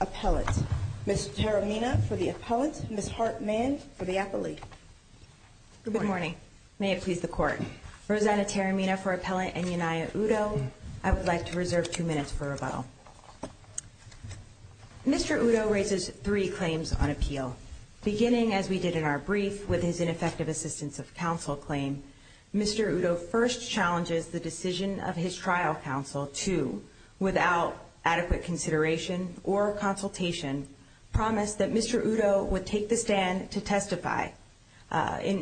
Appellant. Ms. Taramina for the Appellant, Ms. Hartman for the Appellee. Good morning. May it please the Court. Rosanna Taramina for Appellant, Enyinnaya Udo. I would like to reserve two minutes for rebuttal. Mr. Udo raises three claims on appeal. Beginning as we did in our brief with his ineffective assistance of counsel claim, Mr. Udo first challenges the decision of his trial counsel to, without adequate consideration or consultation, promise that Mr. Udo would take the stand to testify in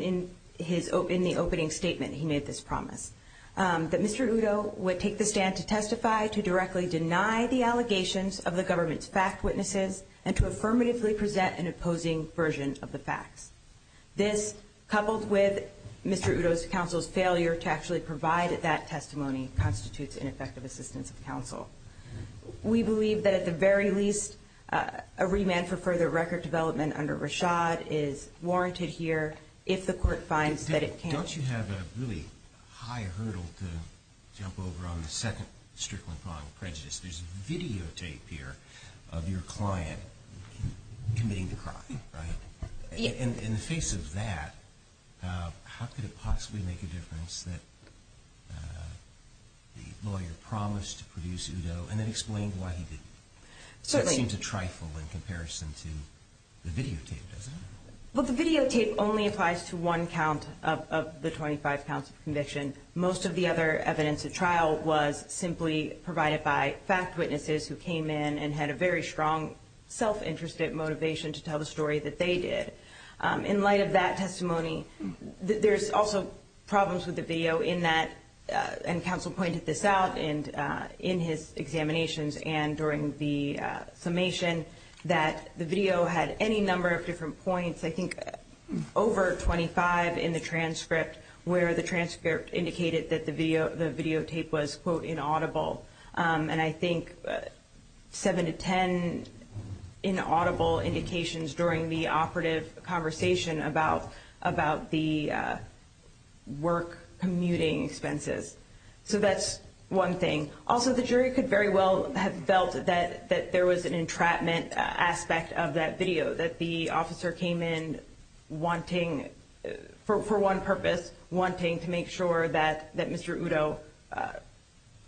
the opening statement he made this promise. That Mr. Udo would take the stand to testify, to directly deny the allegations of the government's fact witnesses, and to affirmatively present an opposing version of the facts. This, coupled with Mr. Udo's counsel's failure to actually provide that testimony, constitutes ineffective assistance of counsel. We believe that at the very least, a remand for further record development under Rashad is warranted here if the Court finds that it can't. Don't you have a really high hurdle to jump over on the second strickling point of prejudice? There's videotape here of your client committing the crime, right? In the face of that, how could it possibly make a difference that the lawyer promised to produce Udo and then explained why he didn't? Certainly. That seems a trifle in comparison to the videotape, doesn't it? Well, the videotape only applies to one count of the 25 counts of conviction. Most of the other evidence at trial was simply provided by fact witnesses who came in and had a very strong self-interested motivation to tell the story that they did. In light of that testimony, there's also problems with the video in that, and counsel pointed this out in his examinations and during the summation, that the video had any number of different points, I think over 25 in the transcript where the transcript indicated that the videotape was, quote, inaudible. And I think 7 to 10 inaudible indications during the operative conversation about the work commuting expenses. So that's one thing. Also, the jury could very well have felt that there was an entrapment aspect of that video, that the officer came in wanting, for one purpose, wanting to make sure that Mr. Udo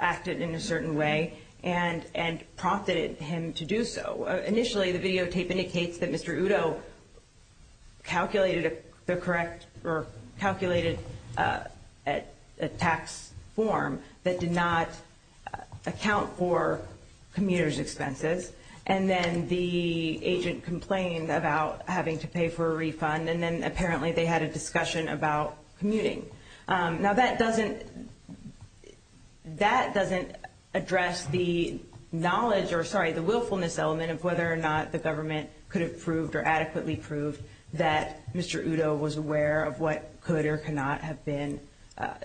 acted in a certain way and prompted him to do so. Initially, the videotape indicates that Mr. Udo calculated the correct, or calculated a tax form that did not account for commuter's expenses. And then the agent complained about having to pay for a refund, and then apparently they had a discussion about commuting. Now, that doesn't address the knowledge, or sorry, the willfulness element of whether or not the government could have proved or adequately proved that Mr. Udo was aware of what could or could not have been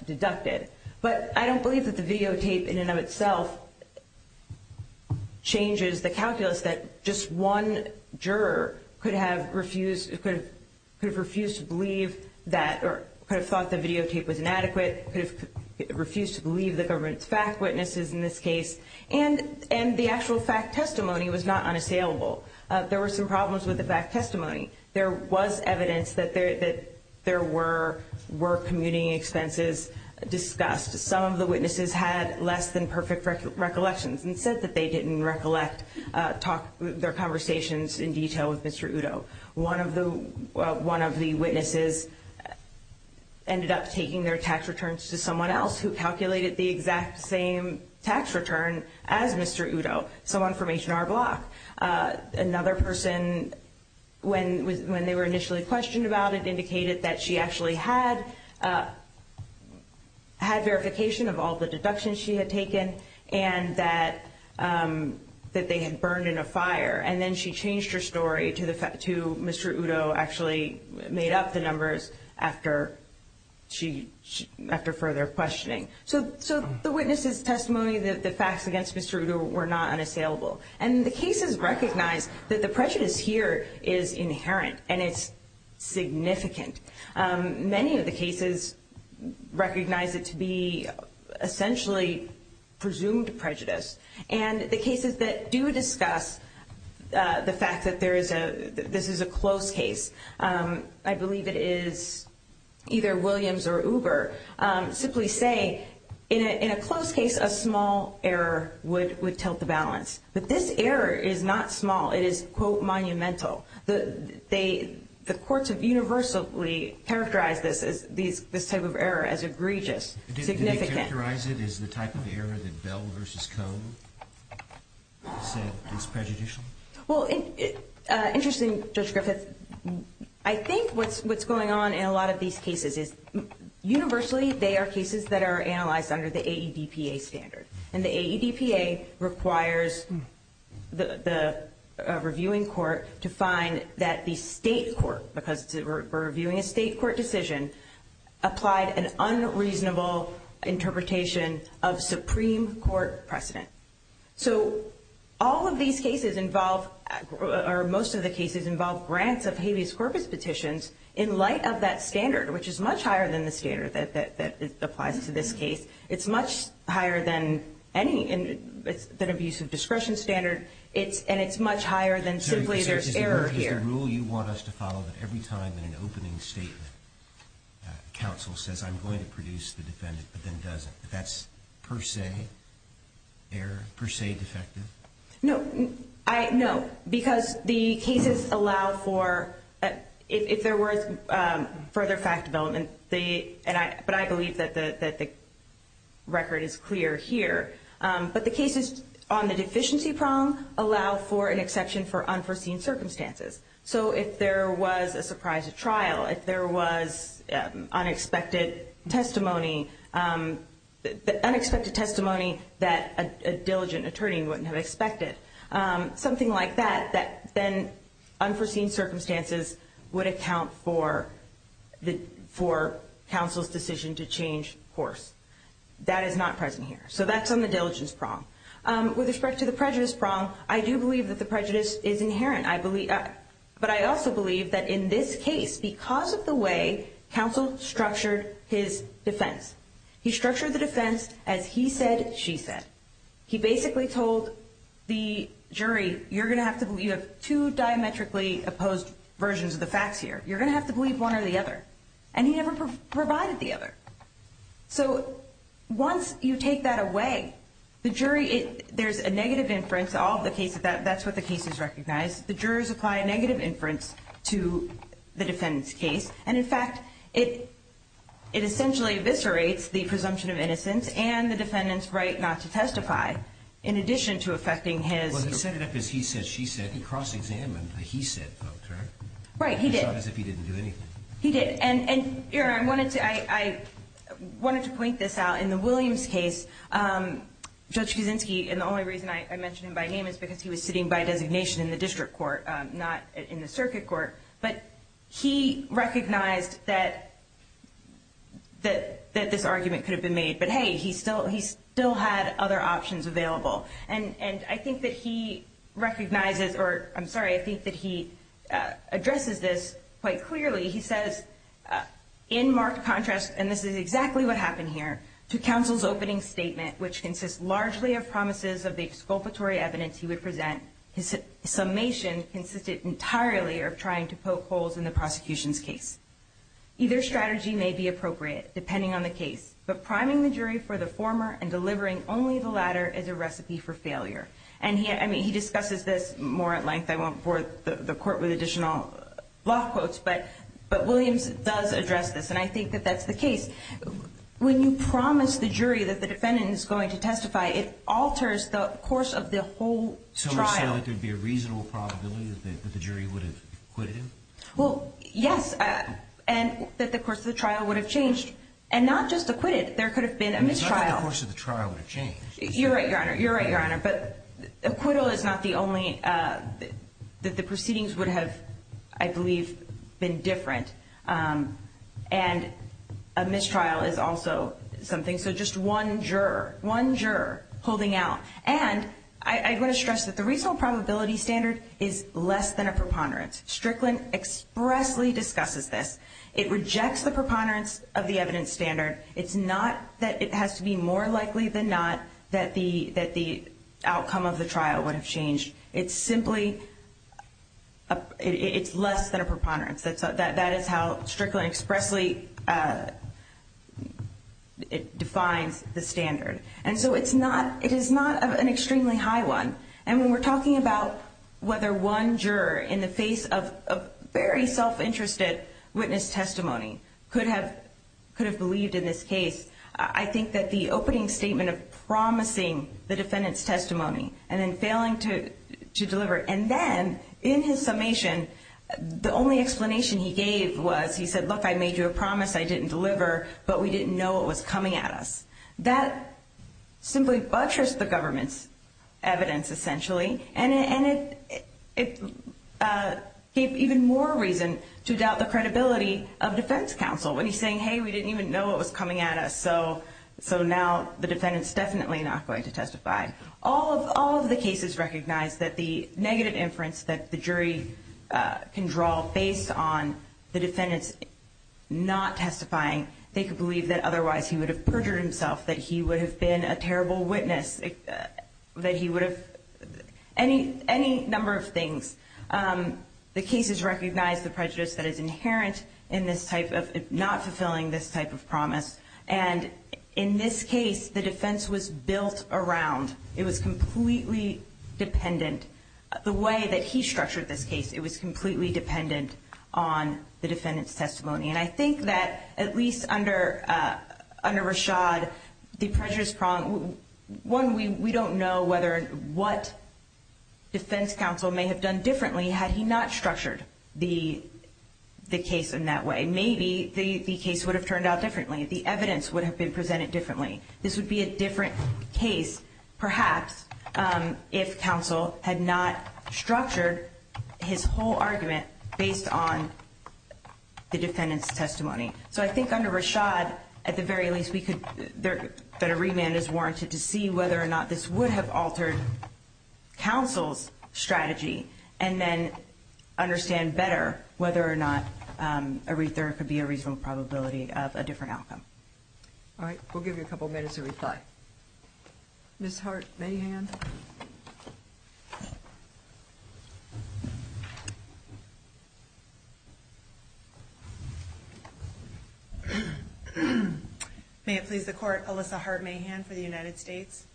deducted. But I don't believe that the videotape in and of itself changes the calculus that just one juror could have refused to believe that, or could have thought the videotape was inadequate, could have refused to believe the government's fact witnesses in this case. And the actual fact testimony was not unassailable. There were some problems with the fact testimony. There was evidence that there were commuting expenses discussed. Some of the witnesses had less than perfect recollections and said that they didn't recollect their conversations in detail with Mr. Udo. One of the witnesses ended up taking their tax returns to someone else who calculated the exact same tax return as Mr. Udo, so on Formation R block. Another person, when they were initially questioned about it, indicated that she actually had verification of all the deductions she had taken and that they had burned in a fire. And then she changed her story to Mr. Udo actually made up the numbers after further questioning. So the witnesses' testimony, the facts against Mr. Udo were not unassailable. And the cases recognize that the prejudice here is inherent and it's significant. Many of the cases recognize it to be essentially presumed prejudice. And the cases that do discuss the fact that this is a close case, I believe it is either Williams or Uber, simply say, in a close case, a small error would tilt the balance. But this error is not small. It is, quote, monumental. The courts have universally characterized this type of error as egregious, significant. Did they characterize it as the type of error that Bell v. Cohn said is prejudicial? Well, interesting, Judge Griffith. I think what's going on in a lot of these cases is universally they are cases that are analyzed under the AEDPA standard. And the AEDPA requires the reviewing court to find that the state court, because we're reviewing a state court decision, applied an unreasonable interpretation of Supreme Court precedent. So all of these cases involve, or most of the cases involve grants of habeas corpus petitions in light of that standard, which is much higher than the standard that applies to this case. It's much higher than any, than abuse of discretion standard. And it's much higher than simply there's error here. Is the rule you want us to follow that every time in an opening statement, counsel says I'm going to produce the defendant, but then doesn't, that that's per se error, per se defective? No. I, no. Because the cases allow for, if there were further fact development, they, but I believe that the record is clear here. But the cases on the deficiency prong allow for an exception for unforeseen circumstances. So if there was a surprise at trial, if there was unexpected testimony, unexpected testimony that a diligent attorney wouldn't have expected, something like that, that then unforeseen circumstances would account for the, for counsel's decision to change course. That is not present here. So that's on the diligence prong. With respect to the prejudice prong, I do believe that the prejudice is inherent. I believe, but I also believe that in this case, because of the way counsel structured his He basically told the jury, you're going to have to, you have two diametrically opposed versions of the facts here. You're going to have to believe one or the other. And he never provided the other. So once you take that away, the jury, there's a negative inference, all of the cases, that's what the cases recognize. The jurors apply a negative inference to the defendant's case. And in fact, it, it essentially eviscerates the defendant's ability not to testify in addition to affecting his... Well, he set it up as he said, she said. He cross-examined a he said vote, correct? Right, he did. It's not as if he didn't do anything. He did. And, and, you know, I wanted to, I, I wanted to point this out. In the Williams case, Judge Kuczynski, and the only reason I, I mentioned him by name is because he was sitting by designation in the district court, not in the circuit court. But he recognized that, that, that this argument could have been made. But hey, he still, he still had other options available. And, and I think that he recognizes, or I'm sorry, I think that he addresses this quite clearly. He says, in marked contrast, and this is exactly what happened here, to counsel's opening statement, which consists largely of promises of the exculpatory evidence he would present, his summation consisted entirely of trying to poke holes in the prosecution's case. Either strategy may be appropriate, depending on the case. But he says, the jury for the former, and delivering only the latter, is a recipe for failure. And he, I mean, he discusses this more at length. I won't bore the, the court with additional law quotes. But, but Williams does address this. And I think that that's the case. When you promise the jury that the defendant is going to testify, it alters the course of the whole trial. So you're saying that there would be a reasonable probability that the jury would have acquitted him? Well, yes. And that the course of the trial would have changed. And not just acquitted. There could have been a mistrial. It's not that the course of the trial would have changed. You're right, Your Honor. You're right, Your Honor. But acquittal is not the only that the proceedings would have, I believe, been different. And a mistrial is also something. So just one juror, one juror holding out. And I want to stress that the reasonable probability standard is less than a preponderance. Strickland expressly discusses this. It rejects the preponderance of the evidence standard. It's not that it has to be more likely than not that the outcome of the trial would have changed. It's simply, it's less than a preponderance. That is how Strickland expressly defines the standard. And so it's not, it is not an extremely high one. And when we're talking about whether one juror in the face of very self-interested witness testimony could have believed in this case, I think that the opening statement of promising the defendant's testimony and then failing to deliver. And then, in his summation, the only explanation he gave was he said, look, I made you a promise I didn't deliver, but we didn't know it was coming at us. That simply buttressed the government's evidence, essentially. And it gave even more reason to doubt the credibility of defense counsel when he's saying, hey, we didn't even know it was coming at us, so now the defendant's definitely not going to testify. All of the cases recognize that the negative inference that the jury can draw based on the defendant's not testifying, they could believe that otherwise he would have perjured himself, that he would have been a terrible witness, that he would have any number of things. The cases recognize the prejudice that is inherent in this type of not fulfilling this type of promise. And in this case, the defense was built around, it was completely dependent, the way that he structured this case, it was completely dependent on the defendant's testimony. And I think that at least under Rashad, the prejudice problem, one, we don't know whether what defense counsel may have done differently had he not structured the case in that way. Maybe the case would have turned out differently. The evidence would have been presented differently. This would be a different case, perhaps, if counsel had not structured his whole argument based on the defendant's testimony. So I think under Rashad, at the very least, that a remand is warranted to see whether or not this would have altered counsel's strategy, and then understand better whether or not there could be a reasonable probability of a different outcome. All right. We'll give you a couple minutes to reply. Ms. Hart-Mahan. May it please the Court, Alyssa Hart-Mahan for the United States.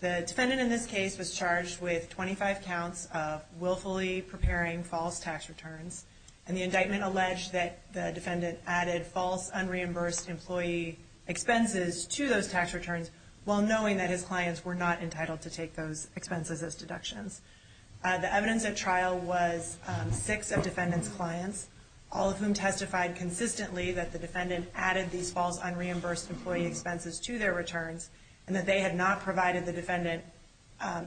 The defendant in this case was charged with 25 counts of willfully preparing false tax returns. And the indictment alleged that the defendant added false, unreimbursed employee expenses to those tax returns while knowing that his clients were not entitled to take those expenses as deductions. The evidence at trial was six of defendant's clients, all of whom testified consistently that the defendant added these false, unreimbursed employee expenses to their returns, and that they had not provided the defendant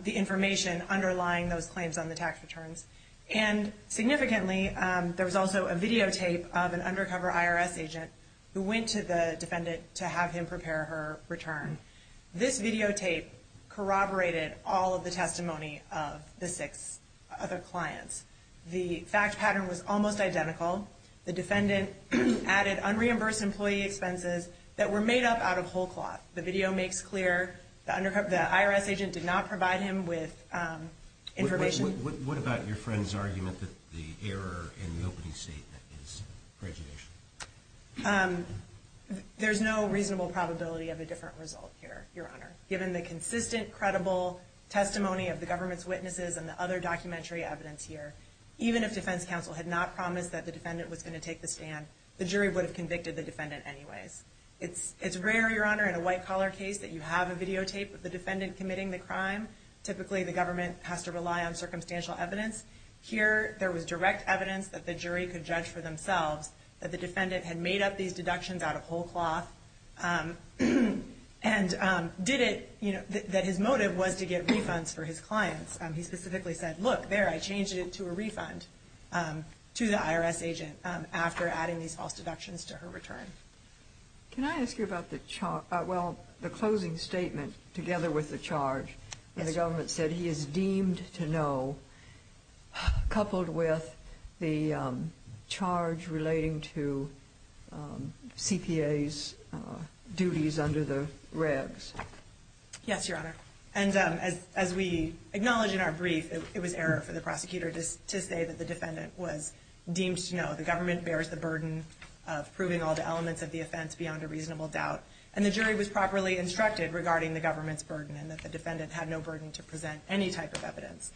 the information underlying those claims on the tax returns. And significantly, there was also a videotape of an undercover IRS agent who went to the defendant to have him prepare her return. This videotape corroborated all of the testimony of the six other clients. The fact pattern was almost identical. The defendant added unreimbursed employee expenses that were made up out of whole cloth. The video makes clear the IRS agent did not provide him with information. What about your friend's argument that the error in the opening statement is prejudicial? There's no reasonable probability of a different result here, Your Honor. Given the consistent, credible testimony of the government's witnesses and the other documentary evidence here, even if defense counsel had not promised that the defendant was going to take the stand, the jury would have convicted the defendant anyways. It's rare, Your Honor, in a white-collar case that you have a videotape of the defendant committing the crime. Typically, the government has to provide substantial evidence. Here, there was direct evidence that the jury could judge for themselves that the defendant had made up these deductions out of whole cloth and did it, you know, that his motive was to get refunds for his clients. He specifically said, look, there, I changed it to a refund to the IRS agent after adding these false deductions to her return. Can I ask you about the, well, the closing statement together with the charge when the government said he is deemed to know, coupled with the charge relating to CPA's duties under the regs? Yes, Your Honor. And as we acknowledge in our brief, it was error for the prosecutor to say that the defendant was deemed to know. The government bears the burden of proving all the elements of the offense beyond a reasonable doubt. And the jury was properly instructed regarding the government's burden and that the defendant had no burden to present any type of evidence.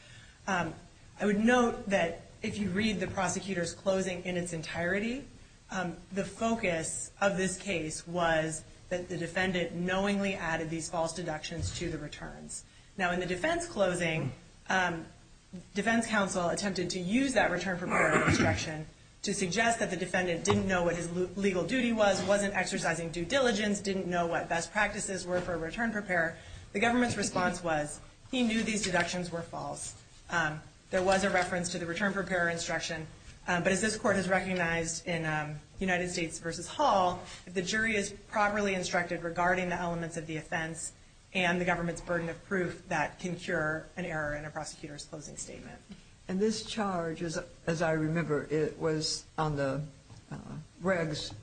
I would note that if you read the prosecutor's closing in its entirety, the focus of this case was that the defendant knowingly added these false deductions to the returns. Now, in the defense closing, defense counsel attempted to use that return prepare instruction to suggest that the defendant didn't know what his legal duty was, wasn't exercising due diligence, didn't know what best practices were for a return prepare. The government's response was he knew these deductions were false. There was a reference to the return prepare instruction. But as this court has recognized in United States v. Hall, the jury is properly instructed regarding the elements of the offense and the government's burden of proof that can cure an error in a prosecutor's closing statement. And this charge, as I remember, it was on the regs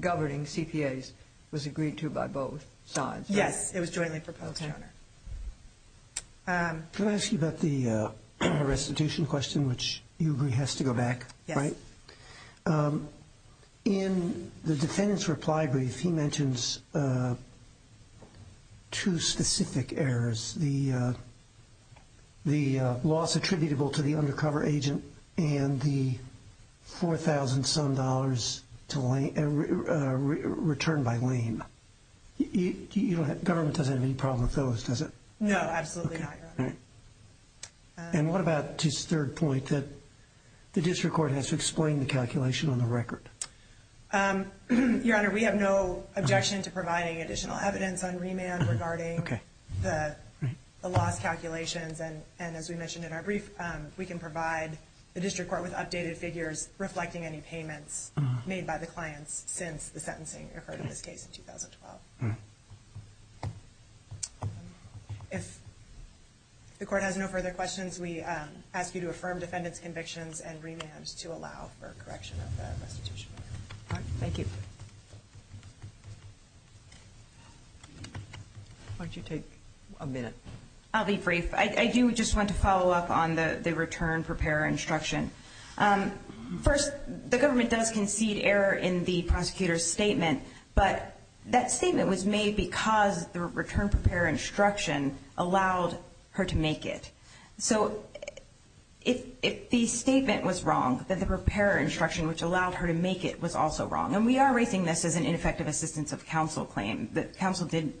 governing CPA's, was agreed to by both sides, right? Yes, it was jointly proposed, Your Honor. Can I ask you about the restitution question, which you agree has to go back, right? Yes. In the defendant's reply brief, he mentions two specific errors. The loss attributable to the undercover agent and the 4,000-some dollars return by lien. Government doesn't have any problem with those, does it? No, absolutely not, Your Honor. And what about his third point that the district court has to explain the calculation on the record? Your Honor, we have no objection to providing additional evidence on remand regarding the loss calculations. And as we mentioned in our brief, we can provide the district court with updated figures reflecting any payments made by the clients since the sentencing occurred in this case in 2012. If the court has no further questions, we ask you to affirm defendant's convictions and remands to allow for correction of the restitution. Thank you. Why don't you take a minute? I'll be brief. I do just want to follow up on the return preparer instruction. First, the government does concede error in the prosecutor's statement, but that statement was made because the return preparer instruction allowed her to make it. So if the statement was wrong, then the preparer instruction, which allowed her to make it, was also wrong. And we are raising this as an ineffective assistance of counsel claim. Counsel did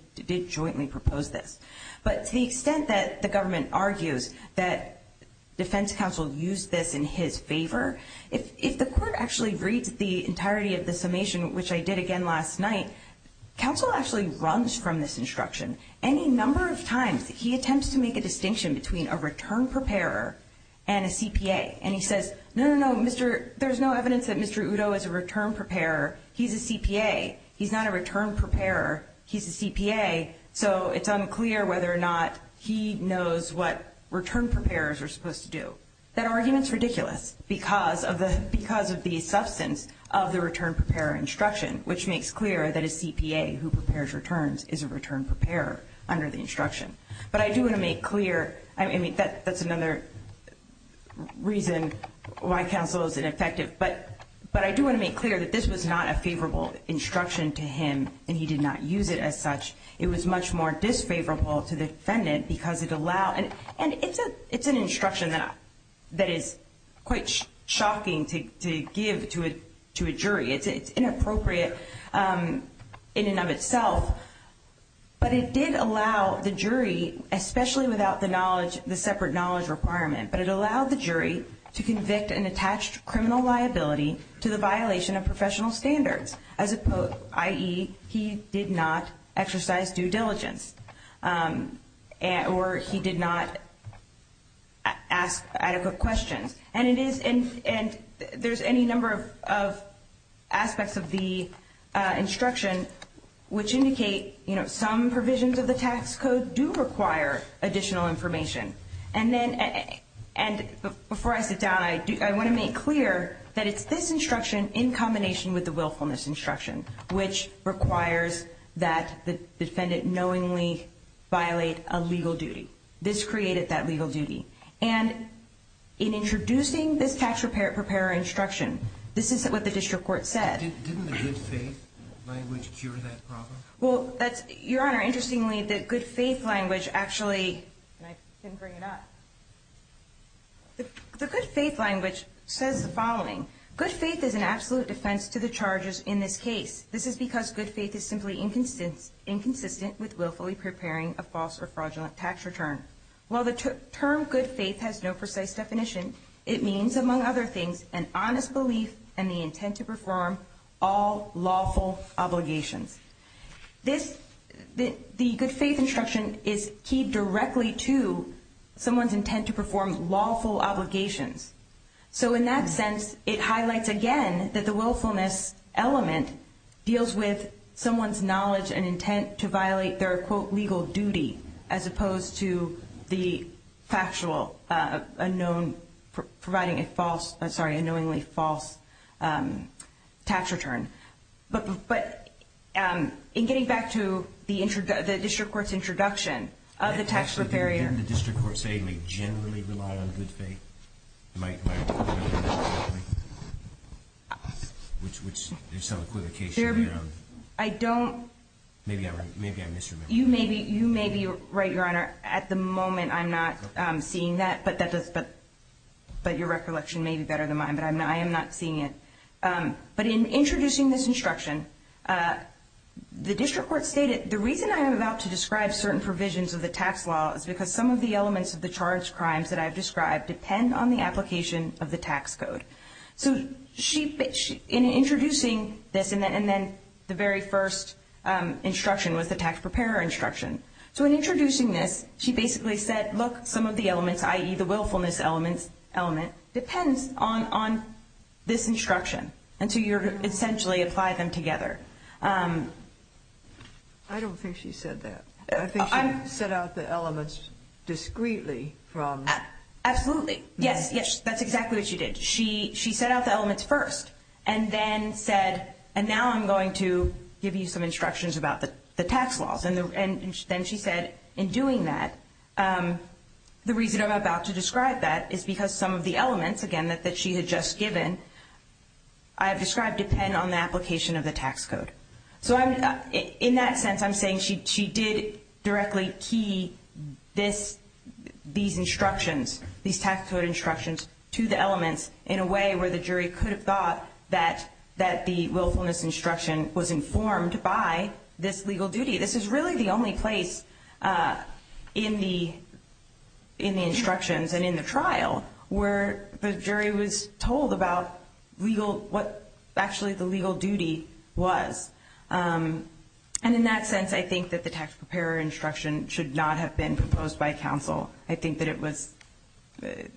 jointly propose this. But to the extent that the government argues that defense counsel used this in his favor, if the court actually reads the entirety of the summation, which I did again last night, counsel actually runs from this instruction. Any number of times he attempts to make a distinction between a return preparer and a CPA, and he says, no, no, no, there's no evidence that Mr. Udo is a return preparer, he's a CPA, he's not a return preparer, he's a CPA, so it's unclear whether or not he knows what return preparers are supposed to do. That argument is ridiculous because of the substance of the return preparer instruction, which makes clear that a CPA who prepares returns is a return preparer under the instruction. But I do want to make clear, I mean, that's another reason why counsel is ineffective, but I do want to make clear that this was not a favorable instruction to him, and he did not use it as such. It was much more disfavorable to the defendant because it allowed, and it's an instruction that is quite shocking to give to a jury. It's inappropriate in and of itself. But it did allow the jury, especially without the knowledge, the separate criminal liability to the violation of professional standards, i.e., he did not exercise due diligence, or he did not ask adequate questions. And there's any number of aspects of the instruction which indicate some provisions of the tax code do require additional information. And before I sit down, I want to make clear that it's this instruction in combination with the willfulness instruction which requires that the defendant knowingly violate a legal duty. This created that legal duty. And in introducing this tax preparer instruction, this is what the district court said. Didn't the good faith language cure that problem? Well, Your Honor, interestingly, the good faith language actually, and I didn't bring it up. The good faith language says the following. Good faith is an absolute defense to the charges in this case. This is because good faith is simply inconsistent with willfully preparing a false or fraudulent tax return. While the term good faith has no precise definition, it means, among other beliefs and the intent to perform, all lawful obligations. The good faith instruction is keyed directly to someone's intent to perform lawful obligations. So in that sense, it highlights again that the willfulness element deals with someone's knowledge and intent to violate their, quote, legal duty as opposed to the factual unknown, providing a false, I'm sorry, a knowingly false tax return. But in getting back to the district court's introduction of the tax preparer Didn't the district court say you may generally rely on good faith? Am I remembering that correctly? Which there's some equivocation there. I don't Maybe I misremembered. You may be right, Your Honor. At the moment, I'm not seeing that. But your recollection may be better than mine. But I am not seeing it. But in introducing this instruction, the district court stated the reason I'm about to describe certain provisions of the tax law is because some of the elements of the charged crimes that I've described depend on the application of the tax code. So in introducing this, and then the very first instruction was the tax preparer instruction. So in introducing this, she basically said, look, some of the elements, i.e., the willfulness element, depends on this instruction. And so you essentially apply them together. I don't think she said that. I think she set out the elements discreetly from Absolutely. Yes, yes. That's exactly what she did. She set out the elements first and then said, and now I'm going to give you some instructions about the tax laws. And then she said, in doing that, the reason I'm about to describe that is because some of the elements, again, that she had just given, I have described depend on the application of the tax code. So in that sense, I'm saying she did directly key this, these instructions, these tax code instructions, to the elements in a way where the jury could have thought that the willfulness instruction was informed by this legal duty. This is really the only place in the instructions and in the trial where the jury was told about what actually the legal duty was. And in that sense, I think that the tax preparer instruction should not have been proposed by counsel. I think that it was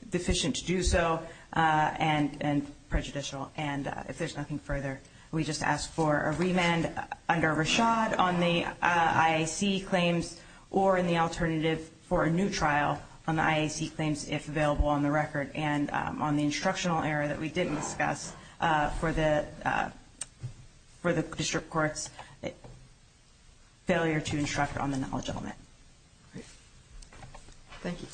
deficient to do so and prejudicial. And if there's nothing further, we just ask for a remand under Rashad on the IAC claims or in the alternative for a new trial on the IAC claims, if available on the record, and on the instructional error that we didn't discuss for the district court's failure to instruct on the knowledge element. Thank you.